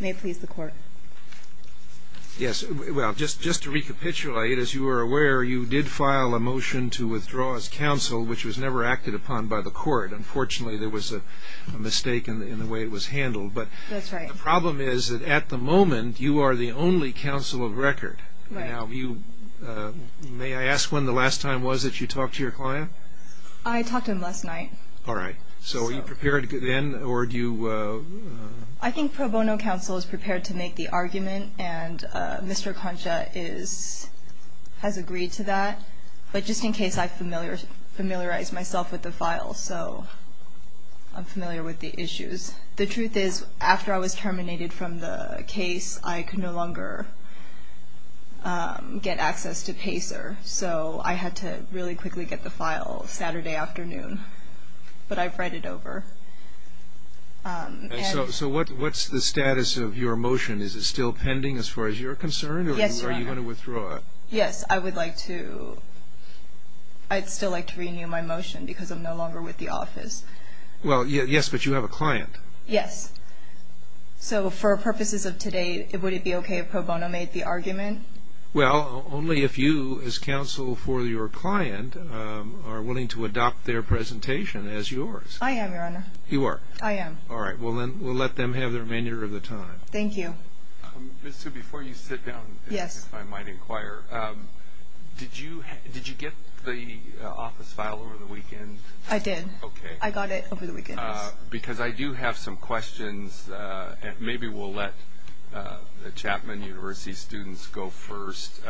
May it please the court. Yes, well, just to recapitulate, as you are aware, you did file a motion to withdraw as counsel, which was never acted upon by the court. Unfortunately, there was a mistake in the way it was handled. That's right. But the problem is that at the moment, you are the only counsel of record. Right. Now, may I ask when the last time was that you talked to your client? I talked to him last night. All right. So were you prepared then, or do you... I think pro bono counsel is prepared to make the argument, and Mr. Concha has agreed to that. But just in case, I've familiarized myself with the file, so I'm familiar with the issues. The truth is, after I was terminated from the case, I could no longer get access to PACER, so I had to really quickly get the file Saturday afternoon, but I've read it over. So what's the status of your motion? Is it still pending as far as you're concerned? Yes, Your Honor. Or do you want to withdraw it? Yes, I would like to. I'd still like to renew my motion because I'm no longer with the office. Well, yes, but you have a client. Yes. So for purposes of today, would it be okay if pro bono made the argument? Well, only if you, as counsel for your client, are willing to adopt their presentation as yours. I am, Your Honor. You are? I am. All right. Well, then we'll let them have the remainder of the time. Thank you. Ms. Hsu, before you sit down, if I might inquire, did you get the office file over the weekend? I did. Okay. I got it over the weekend. Because I do have some questions, and maybe we'll let the Chapman University students go first,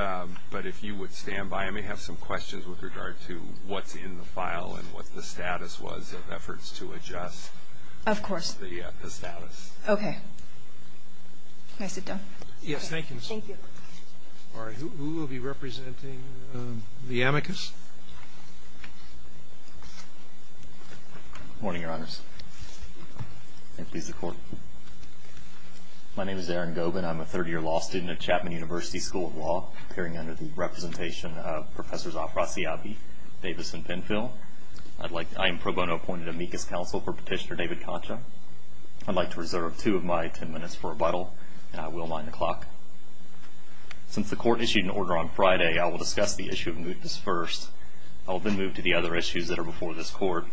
but if you would stand by, I may have some questions with regard to what's in the file and what the status was of efforts to adjust. Of course. The status. Okay. May I sit down? Yes. Thank you, Ms. Hsu. Thank you. All right. Who will be representing the amicus? Good morning, Your Honors. May it please the Court. My name is Aaron Gobin. I'm a third-year law student at Chapman University School of Law, appearing under the representation of Professors Afrasiabi, Davis, and Penfield. I am pro bono appointed amicus counsel for Petitioner David Concha. I'd like to reserve two of my ten minutes for rebuttal, and I will wind the clock. Since the Court issued an order on Friday, I will discuss the issue of mootness first. I will then move to the other issues that are before this Court.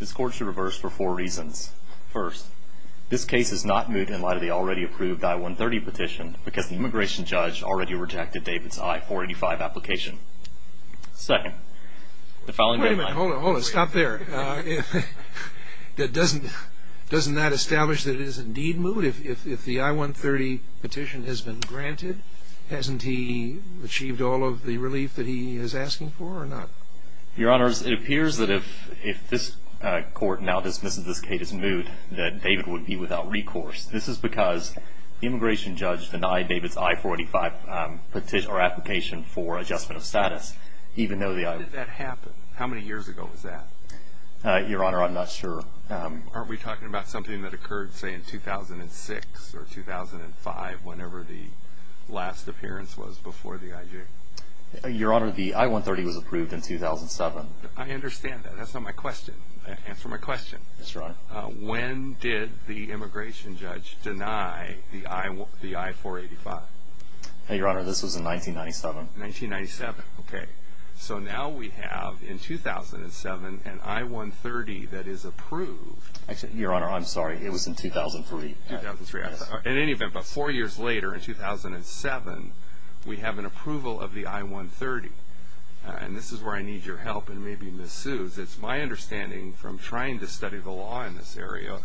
This Court should reverse for four reasons. First, this case is not moot in light of the already approved I-130 petition because the immigration judge already rejected David's I-485 application. Second, the following day my Wait a minute. Hold it. Hold it. Stop there. Doesn't that establish that it is indeed moot if the I-130 petition has been granted? Hasn't he achieved all of the relief that he is asking for or not? Your Honors, it appears that if this Court now dismisses this case as moot, that David would be without recourse. This is because the immigration judge denied David's I-485 application for adjustment of status. When did that happen? How many years ago was that? Your Honor, I'm not sure. Aren't we talking about something that occurred, say, in 2006 or 2005, whenever the last appearance was before the IJ? Your Honor, the I-130 was approved in 2007. I understand that. That's not my question. Answer my question. Yes, Your Honor. When did the immigration judge deny the I-485? Your Honor, this was in 1997. 1997. Okay. So now we have, in 2007, an I-130 that is approved. Your Honor, I'm sorry. It was in 2003. 2003. In any event, about four years later, in 2007, we have an approval of the I-130. And this is where I need your help and maybe misuse. Because it's my understanding from trying to study the law in this area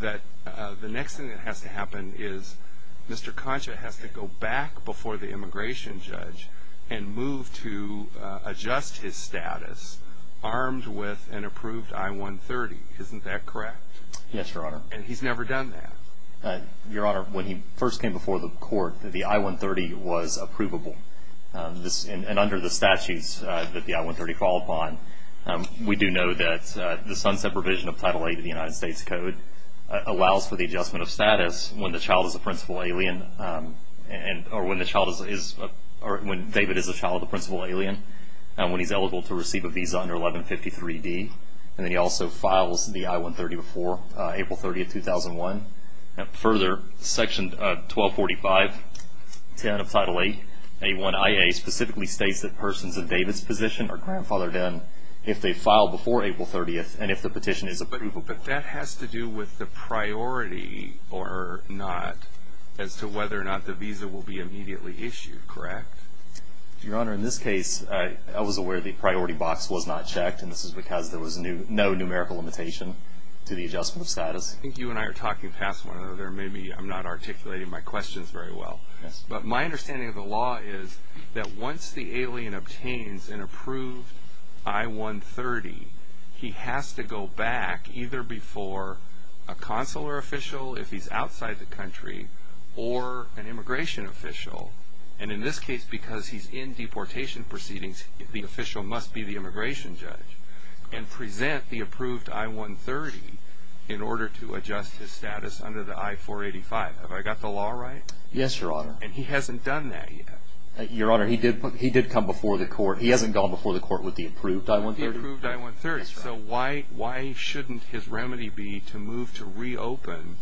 that the next thing that has to happen is Mr. Concha has to go back before the immigration judge and move to adjust his status armed with an approved I-130. Isn't that correct? Yes, Your Honor. And he's never done that. Your Honor, when he first came before the court, the I-130 was approvable. And under the statutes that the I-130 fall upon, we do know that the sunset provision of Title VIII of the United States Code allows for the adjustment of status when the child is a principal alien or when David is a child of a principal alien, when he's eligible to receive a visa under 1153D. And then he also files the I-130 before April 30, 2001. Further, Section 1245.10 of Title VIII, A1IA specifically states that persons in David's position are grandfathered in if they file before April 30 and if the petition is approvable. But that has to do with the priority or not as to whether or not the visa will be immediately issued, correct? Your Honor, in this case, I was aware the priority box was not checked, and this is because there was no numerical limitation to the adjustment of status. I think you and I are talking past one another. Maybe I'm not articulating my questions very well. But my understanding of the law is that once the alien obtains an approved I-130, he has to go back either before a consular official if he's outside the country or an immigration official. And in this case, because he's in deportation proceedings, the official must be the immigration judge and present the approved I-130 in order to adjust his status under the I-485. Have I got the law right? Yes, Your Honor. And he hasn't done that yet? Your Honor, he did come before the court. He hasn't gone before the court with the approved I-130. With the approved I-130. Yes, Your Honor. So why shouldn't his remedy be to move to reopen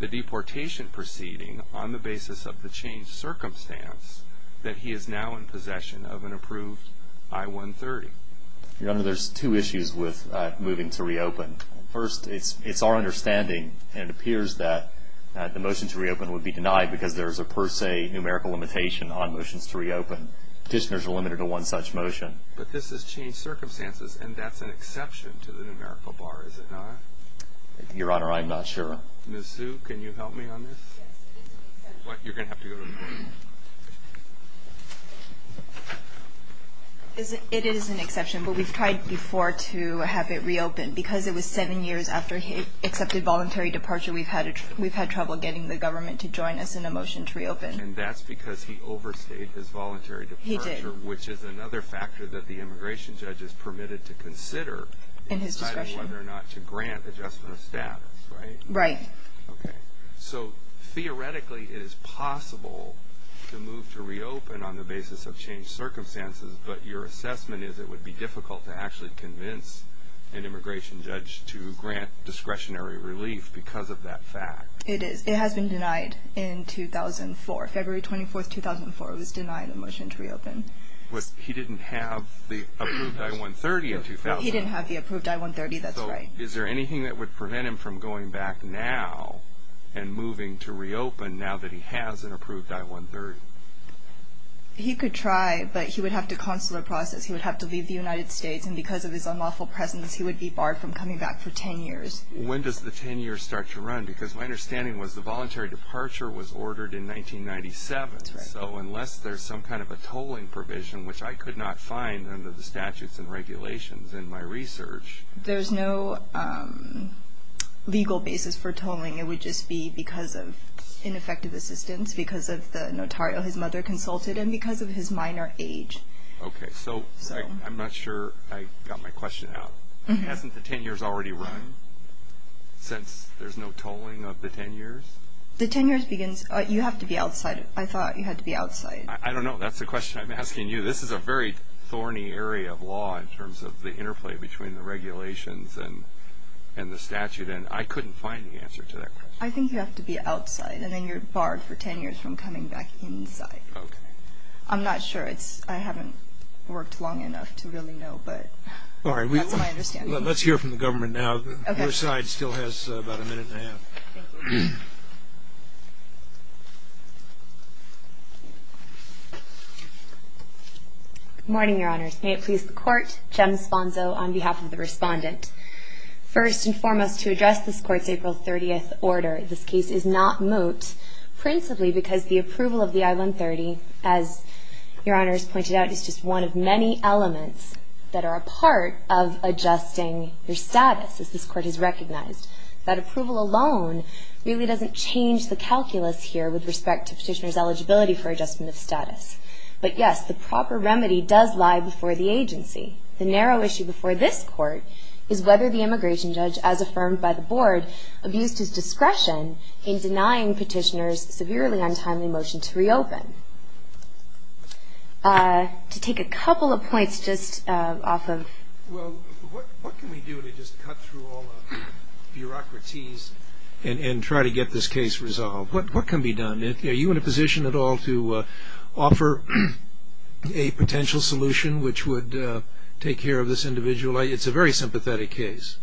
the deportation proceeding on the basis of the changed circumstance that he is now in possession of an approved I-130? Your Honor, there's two issues with moving to reopen. First, it's our understanding, and it appears that the motion to reopen would be denied because there is a per se numerical limitation on motions to reopen. Petitioners are limited to one such motion. But this has changed circumstances, and that's an exception to the numerical bar, is it not? Your Honor, I'm not sure. Ms. Sue, can you help me on this? Yes, it is an exception. You're going to have to go to the court. It is an exception, but we've tried before to have it reopened. Because it was seven years after he accepted voluntary departure, we've had trouble getting the government to join us in a motion to reopen. And that's because he overstayed his voluntary departure. He did. Which is another factor that the immigration judge is permitted to consider in deciding whether or not to grant adjustment of status, right? Right. Okay. So theoretically it is possible to move to reopen on the basis of changed circumstances, but your assessment is it would be difficult to actually convince an immigration judge to grant discretionary relief because of that fact. It is. It has been denied in 2004, February 24, 2004. It was denied a motion to reopen. He didn't have the approved I-130 in 2000. He didn't have the approved I-130, that's right. Is there anything that would prevent him from going back now and moving to reopen now that he has an approved I-130? He could try, but he would have to consular process. He would have to leave the United States, and because of his unlawful presence he would be barred from coming back for 10 years. When does the 10 years start to run? Because my understanding was the voluntary departure was ordered in 1997. That's right. So unless there's some kind of a tolling provision, which I could not find under the statutes and regulations in my research. There's no legal basis for tolling. It would just be because of ineffective assistance, because of the notarial his mother consulted, and because of his minor age. Okay. So I'm not sure I got my question out. Hasn't the 10 years already run since there's no tolling of the 10 years? The 10 years begins. You have to be outside. I thought you had to be outside. I don't know. That's the question I'm asking you. This is a very thorny area of law in terms of the interplay between the regulations and the statute, and I couldn't find the answer to that question. I think you have to be outside, and then you're barred for 10 years from coming back inside. Okay. I'm not sure. I haven't worked long enough to really know, but that's my understanding. Let's hear from the government now. Your side still has about a minute and a half. Thank you. Good morning, Your Honors. May it please the Court, Jem Sponzo on behalf of the Respondent. First and foremost, to address this Court's April 30th order, this case is not moot principally because the approval of the I-130, as Your Honors pointed out, is just one of many elements that are a part of adjusting your status. This Court has recognized that approval alone really doesn't change the calculus here with respect to petitioner's eligibility for adjustment of status. But, yes, the proper remedy does lie before the agency. The narrow issue before this Court is whether the immigration judge, as affirmed by the Board, abused his discretion in denying petitioners severely untimely motion to reopen. To take a couple of points just off of... Well, what can we do to just cut through all the bureaucraties and try to get this case resolved? What can be done? Are you in a position at all to offer a potential solution which would take care of this individual? It's a very sympathetic case.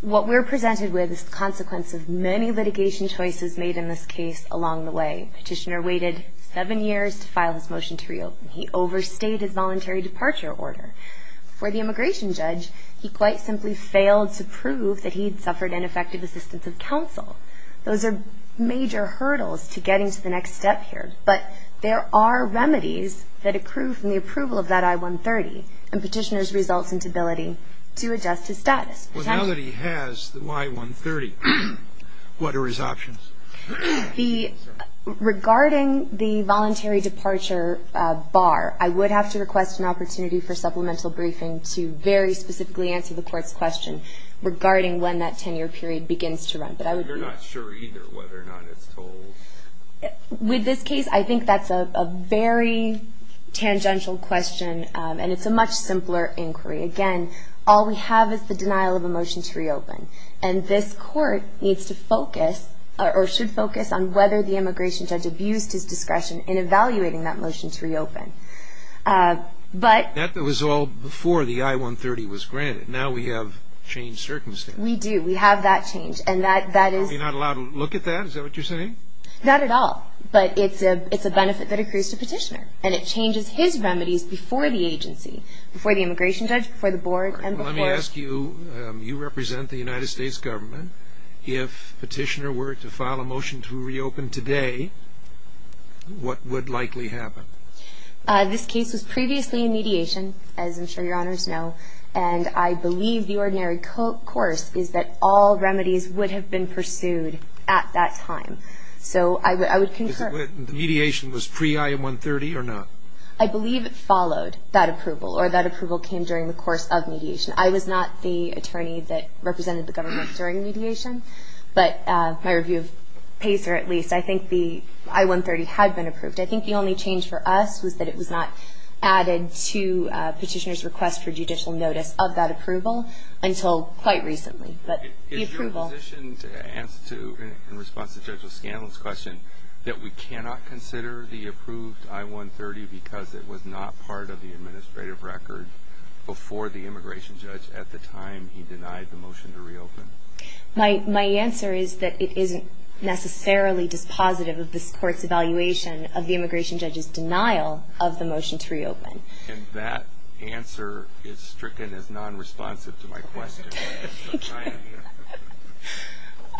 What we're presented with is the consequence of many litigation choices made in this case along the way. Petitioner waited seven years to file his motion to reopen. He overstayed his voluntary departure order. For the immigration judge, he quite simply failed to prove that he'd suffered ineffective assistance of counsel. Those are major hurdles to getting to the next step here. But there are remedies that accrue from the approval of that I-130 and petitioner's resultant ability to adjust his status. Well, now that he has the I-130, what are his options? Regarding the voluntary departure bar, I would have to request an opportunity for supplemental briefing to very specifically answer the court's question regarding when that 10-year period begins to run. But I would be... You're not sure either whether or not it's told. With this case, I think that's a very tangential question, and it's a much simpler inquiry. And this court needs to focus, or should focus, on whether the immigration judge abused his discretion in evaluating that motion to reopen. But... That was all before the I-130 was granted. Now we have changed circumstances. We do. We have that change, and that is... Are we not allowed to look at that? Is that what you're saying? Not at all. But it's a benefit that accrues to petitioner, and it changes his remedies before the agency, before the immigration judge, before the board, and before... You represent the United States government. If petitioner were to file a motion to reopen today, what would likely happen? This case was previously in mediation, as I'm sure Your Honors know. And I believe the ordinary course is that all remedies would have been pursued at that time. So I would concur. Mediation was pre-I-130 or not? I believe it followed that approval, or that approval came during the course of mediation. I was not the attorney that represented the government during mediation. But my review of PACER, at least, I think the I-130 had been approved. I think the only change for us was that it was not added to petitioner's request for judicial notice of that approval until quite recently. But the approval... Is your position, in response to Judge O'Scanlon's question, that we cannot consider the approved I-130 because it was not part of the administrative record before the immigration judge at the time he denied the motion to reopen? My answer is that it isn't necessarily dispositive of this Court's evaluation of the immigration judge's denial of the motion to reopen. And that answer is stricken as non-responsive to my question.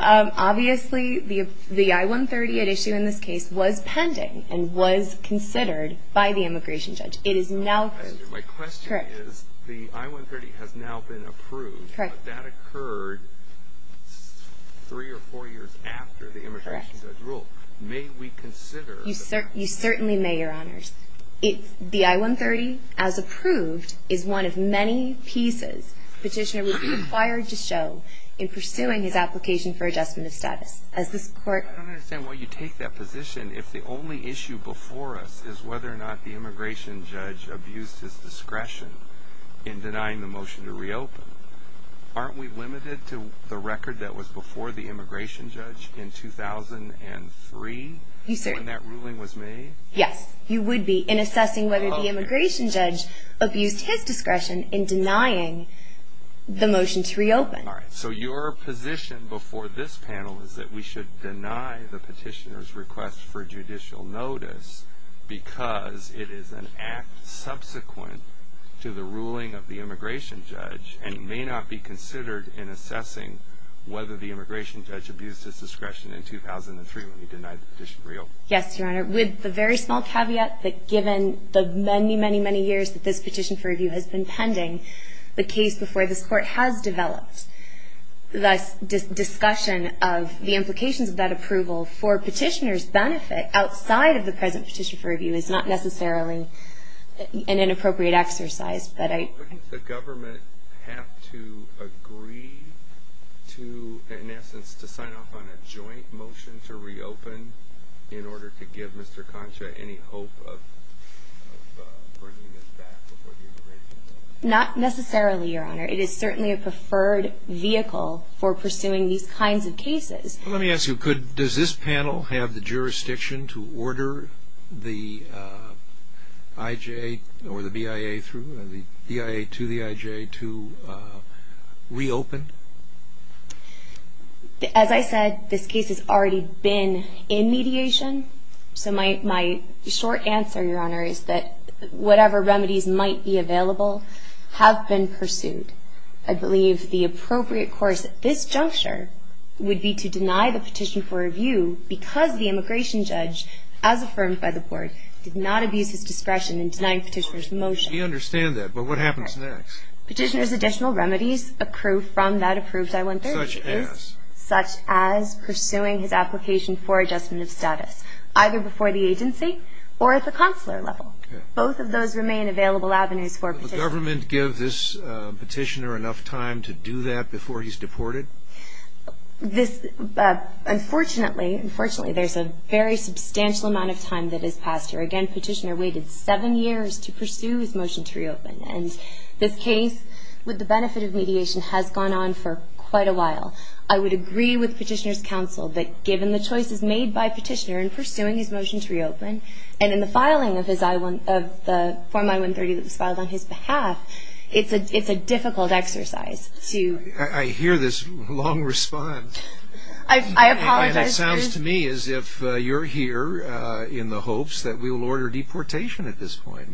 Obviously, the I-130 at issue in this case was pending and was considered by the immigration judge. My question is, the I-130 has now been approved, but that occurred three or four years after the immigration judge ruled. May we consider... You certainly may, Your Honors. The I-130, as approved, is one of many pieces petitioner would be required to show in pursuing his application for adjustment of status. I don't understand why you take that position if the only issue before us is whether or not the immigration judge abused his discretion in denying the motion to reopen. Aren't we limited to the record that was before the immigration judge in 2003 when that ruling was made? Yes, you would be, in assessing whether the immigration judge abused his discretion in denying the motion to reopen. All right. So your position before this panel is that we should deny the petitioner's request for judicial notice because it is an act subsequent to the ruling of the immigration judge and may not be considered in assessing whether the immigration judge abused his discretion in 2003 when he denied the petition to reopen. Yes, Your Honor. With the very small caveat that given the many, many, many years that this petition for review has been pending, the case before this Court has developed, the discussion of the implications of that approval for petitioner's benefit outside of the present petition for review is not necessarily an inappropriate exercise. Would the government have to agree to, in essence, to sign off on a joint motion to reopen in order to give Mr. Concha any hope of bringing this back before the immigration judge? Not necessarily, Your Honor. It is certainly a preferred vehicle for pursuing these kinds of cases. Let me ask you, does this panel have the jurisdiction to order the IJ or the BIA to reopen? As I said, this case has already been in mediation. So my short answer, Your Honor, is that whatever remedies might be available have been pursued. I believe the appropriate course at this juncture would be to deny the petition for review because the immigration judge, as affirmed by the Board, did not abuse his discretion in denying petitioner's motion. We understand that, but what happens next? Petitioner's additional remedies accrue from that approved I-130 case. Such as? Pursuing his application for adjustment of status, either before the agency or at the consular level. Both of those remain available avenues for petitioners. Would the government give this petitioner enough time to do that before he's deported? Unfortunately, there's a very substantial amount of time that is passed here. Again, petitioner waited seven years to pursue his motion to reopen. And this case, with the benefit of mediation, has gone on for quite a while. I would agree with petitioner's counsel that given the choices made by petitioner in pursuing his motion to reopen, and in the filing of the form I-130 that was filed on his behalf, it's a difficult exercise. I hear this long response. I apologize. It sounds to me as if you're here in the hopes that we will order deportation at this point.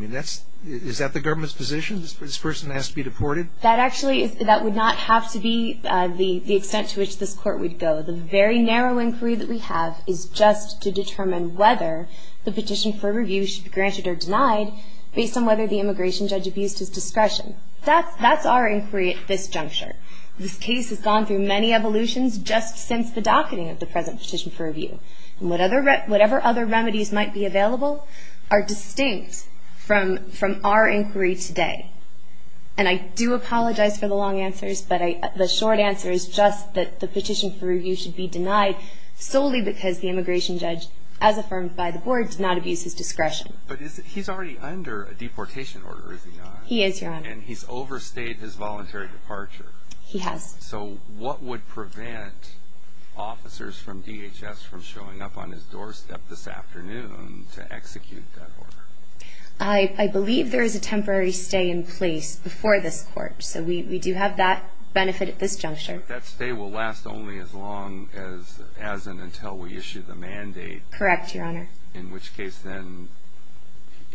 Is that the government's position, this person has to be deported? That actually would not have to be the extent to which this court would go. The very narrow inquiry that we have is just to determine whether the petition for review should be granted or denied, based on whether the immigration judge abused his discretion. That's our inquiry at this juncture. This case has gone through many evolutions just since the docketing of the present petition for review. Whatever other remedies might be available are distinct from our inquiry today. And I do apologize for the long answers, but the short answer is just that the petition for review should be denied solely because the immigration judge, as affirmed by the board, did not abuse his discretion. But he's already under a deportation order, is he not? He is, Your Honor. And he's overstayed his voluntary departure. He has. So what would prevent officers from DHS from showing up on his doorstep this afternoon to execute that order? I believe there is a temporary stay in place before this court. So we do have that benefit at this juncture. But that stay will last only as long as and until we issue the mandate. Correct, Your Honor. In which case, then,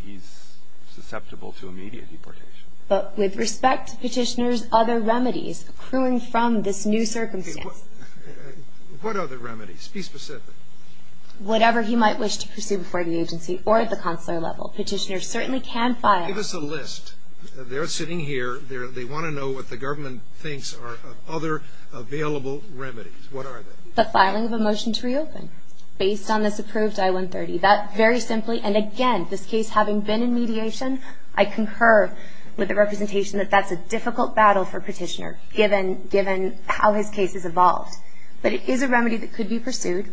he's susceptible to immediate deportation. But with respect to Petitioner's other remedies accruing from this new circumstance. What other remedies? Be specific. Whatever he might wish to pursue before the agency or at the consular level. Petitioner certainly can file. Give us a list. They're sitting here. They want to know what the government thinks are other available remedies. What are they? The filing of a motion to reopen based on this approved I-130. That, very simply, and again, this case having been in mediation, I concur with the representation that that's a difficult battle for Petitioner given how his case has evolved. But it is a remedy that could be pursued.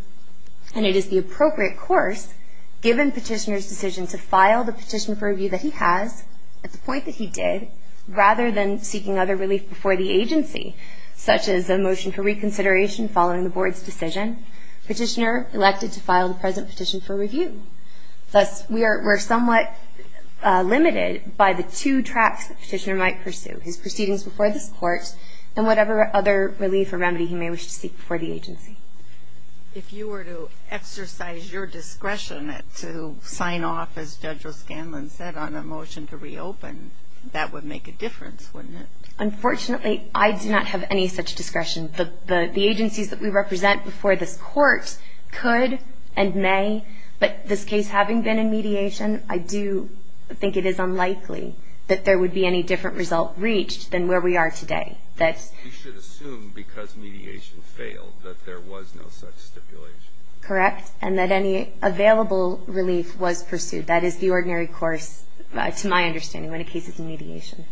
And it is the appropriate course, given Petitioner's decision to file the petition for review that he has, at the point that he did, rather than seeking other relief before the agency, such as a motion for reconsideration following the Board's decision. Petitioner elected to file the present petition for review. Thus, we're somewhat limited by the two tracks that Petitioner might pursue. His proceedings before this Court and whatever other relief or remedy he may wish to seek before the agency. If you were to exercise your discretion to sign off, as Judge O'Scanlan said, on a motion to reopen, that would make a difference, wouldn't it? Unfortunately, I do not have any such discretion. The agencies that we represent before this Court could and may, but this case having been in mediation, I do think it is unlikely that there would be any different result reached than where we are today. You should assume, because mediation failed, that there was no such stipulation. Correct. And that any available relief was pursued. That is the ordinary course, to my understanding, when a case is in mediation.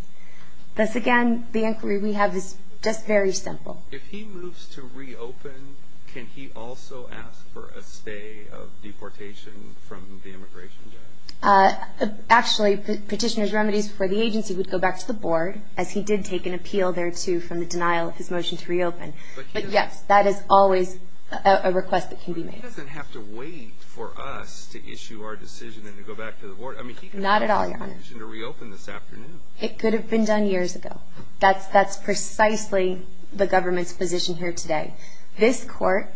Thus, again, the inquiry we have is just very simple. If he moves to reopen, can he also ask for a stay of deportation from the immigration judge? Actually, Petitioner's remedies before the agency would go back to the Board, as he did take an appeal there, too, from the denial of his motion to reopen. But, yes, that is always a request that can be made. But he doesn't have to wait for us to issue our decision and to go back to the Board. Not at all, Your Honor. I mean, he could have called the petition to reopen this afternoon. It could have been done years ago. That's precisely the government's position here today. This Court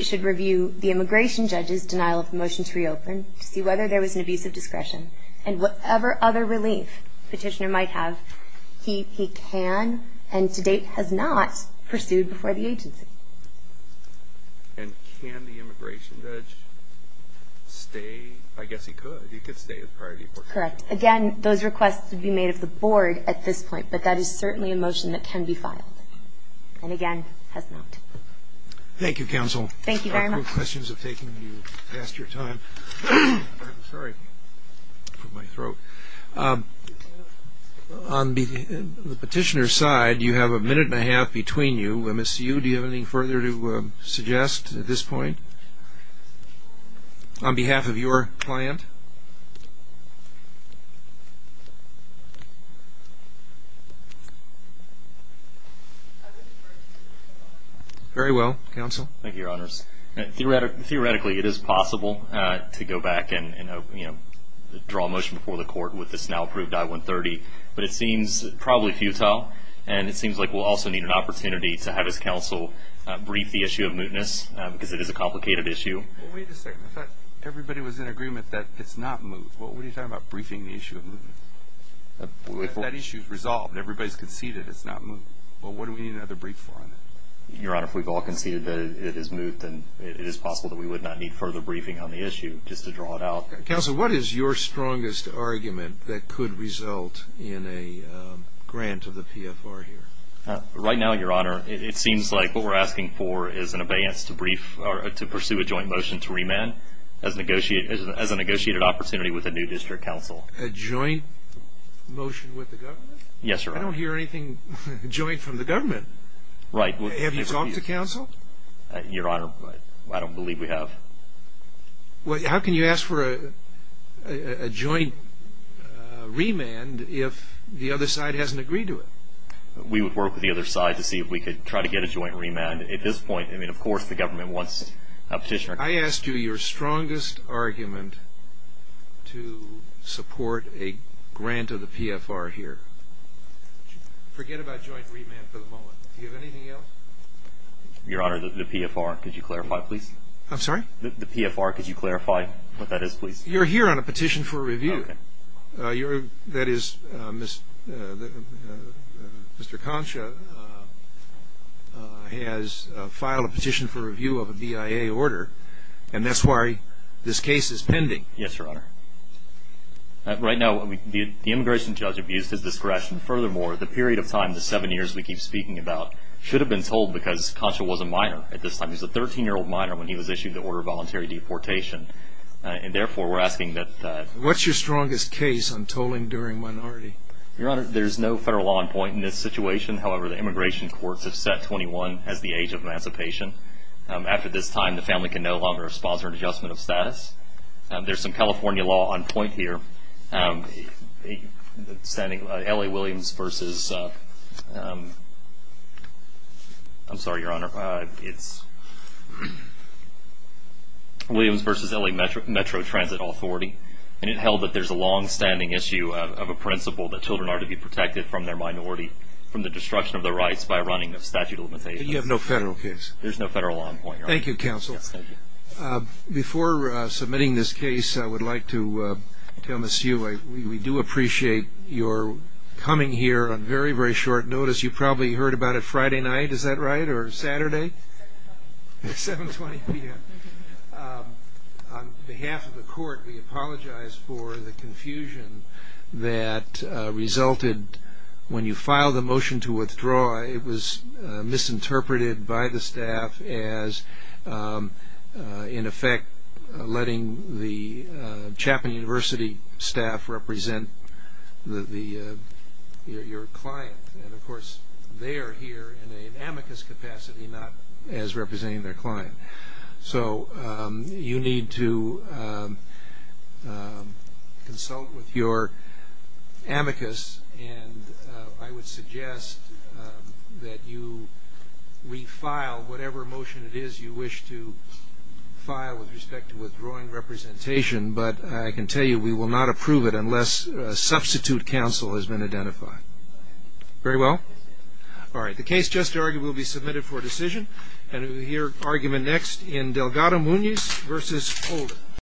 should review the immigration judge's denial of the motion to reopen to see whether there was an abuse of discretion. And whatever other relief Petitioner might have, he can and, to date, has not pursued before the agency. And can the immigration judge stay? I guess he could. He could stay as prior deportation. Correct. Again, those requests would be made of the Board at this point, but that is certainly a motion that can be filed. And, again, has not. Thank you, Counsel. Thank you very much. Questions have taken you past your time. I'm sorry for my throat. On the Petitioner's side, you have a minute and a half between you. Do you have anything further to suggest at this point on behalf of your client? Very well, Counsel. Thank you, Your Honors. Theoretically, it is possible to go back and draw a motion before the Court with this now-approved I-130, but it seems probably futile, and it seems like we'll also need an opportunity to have this Counsel brief the issue of mootness because it is a complicated issue. Wait a second. I thought everybody was in agreement that it's not moot. What were you talking about, briefing the issue of mootness? That issue is resolved. Everybody's conceded it's not moot. Well, what do we need another brief for on that? Your Honor, if we've all conceded that it is moot, then it is possible that we would not need further briefing on the issue just to draw it out. Counsel, what is your strongest argument that could result in a grant of the PFR here? Right now, Your Honor, it seems like what we're asking for is an abeyance to pursue a joint motion to remand as a negotiated opportunity with a new district counsel. A joint motion with the government? Yes, Your Honor. I don't hear anything joint from the government. Right. Have you talked to Counsel? Your Honor, I don't believe we have. Well, how can you ask for a joint remand if the other side hasn't agreed to it? We would work with the other side to see if we could try to get a joint remand. At this point, I mean, of course the government wants a petitioner. I asked you your strongest argument to support a grant of the PFR here. Forget about joint remand for the moment. Do you have anything else? Your Honor, the PFR, could you clarify, please? I'm sorry? The PFR, could you clarify what that is, please? You're here on a petition for review. That is, Mr. Concha has filed a petition for review of a BIA order, and that's why this case is pending. Yes, Your Honor. Right now, the immigration judge abused his discretion. Furthermore, the period of time, the seven years we keep speaking about, should have been told because Concha was a minor at this time. He was a 13-year-old minor when he was issued the order of voluntary deportation. And therefore, we're asking that- What's your strongest case on tolling during minority? Your Honor, there's no federal law on point in this situation. However, the immigration courts have set 21 as the age of emancipation. After this time, the family can no longer sponsor an adjustment of status. There's some California law on point here. LA Williams versus- I'm sorry, Your Honor. Williams versus LA Metro Transit Authority, and it held that there's a longstanding issue of a principle that children are to be protected from their minority, from the destruction of their rights by running of statute of limitations. You have no federal case? There's no federal law on point, Your Honor. Thank you, Counsel. Before submitting this case, I would like to tell Ms. Hugh, we do appreciate your coming here on very, very short notice. You probably heard about it Friday night, is that right, or Saturday? 7.20 p.m. On behalf of the court, we apologize for the confusion that resulted when you filed the motion to withdraw. It was misinterpreted by the staff as, in effect, letting the Chapman University staff represent your client. And, of course, they are here in an amicus capacity, not as representing their client. So you need to consult with your amicus, and I would suggest that you refile whatever motion it is you wish to file with respect to withdrawing representation. But I can tell you we will not approve it unless a substitute counsel has been identified. Very well. All right. The case just argued will be submitted for decision. And we'll hear argument next in Delgado-Muñiz versus Holder.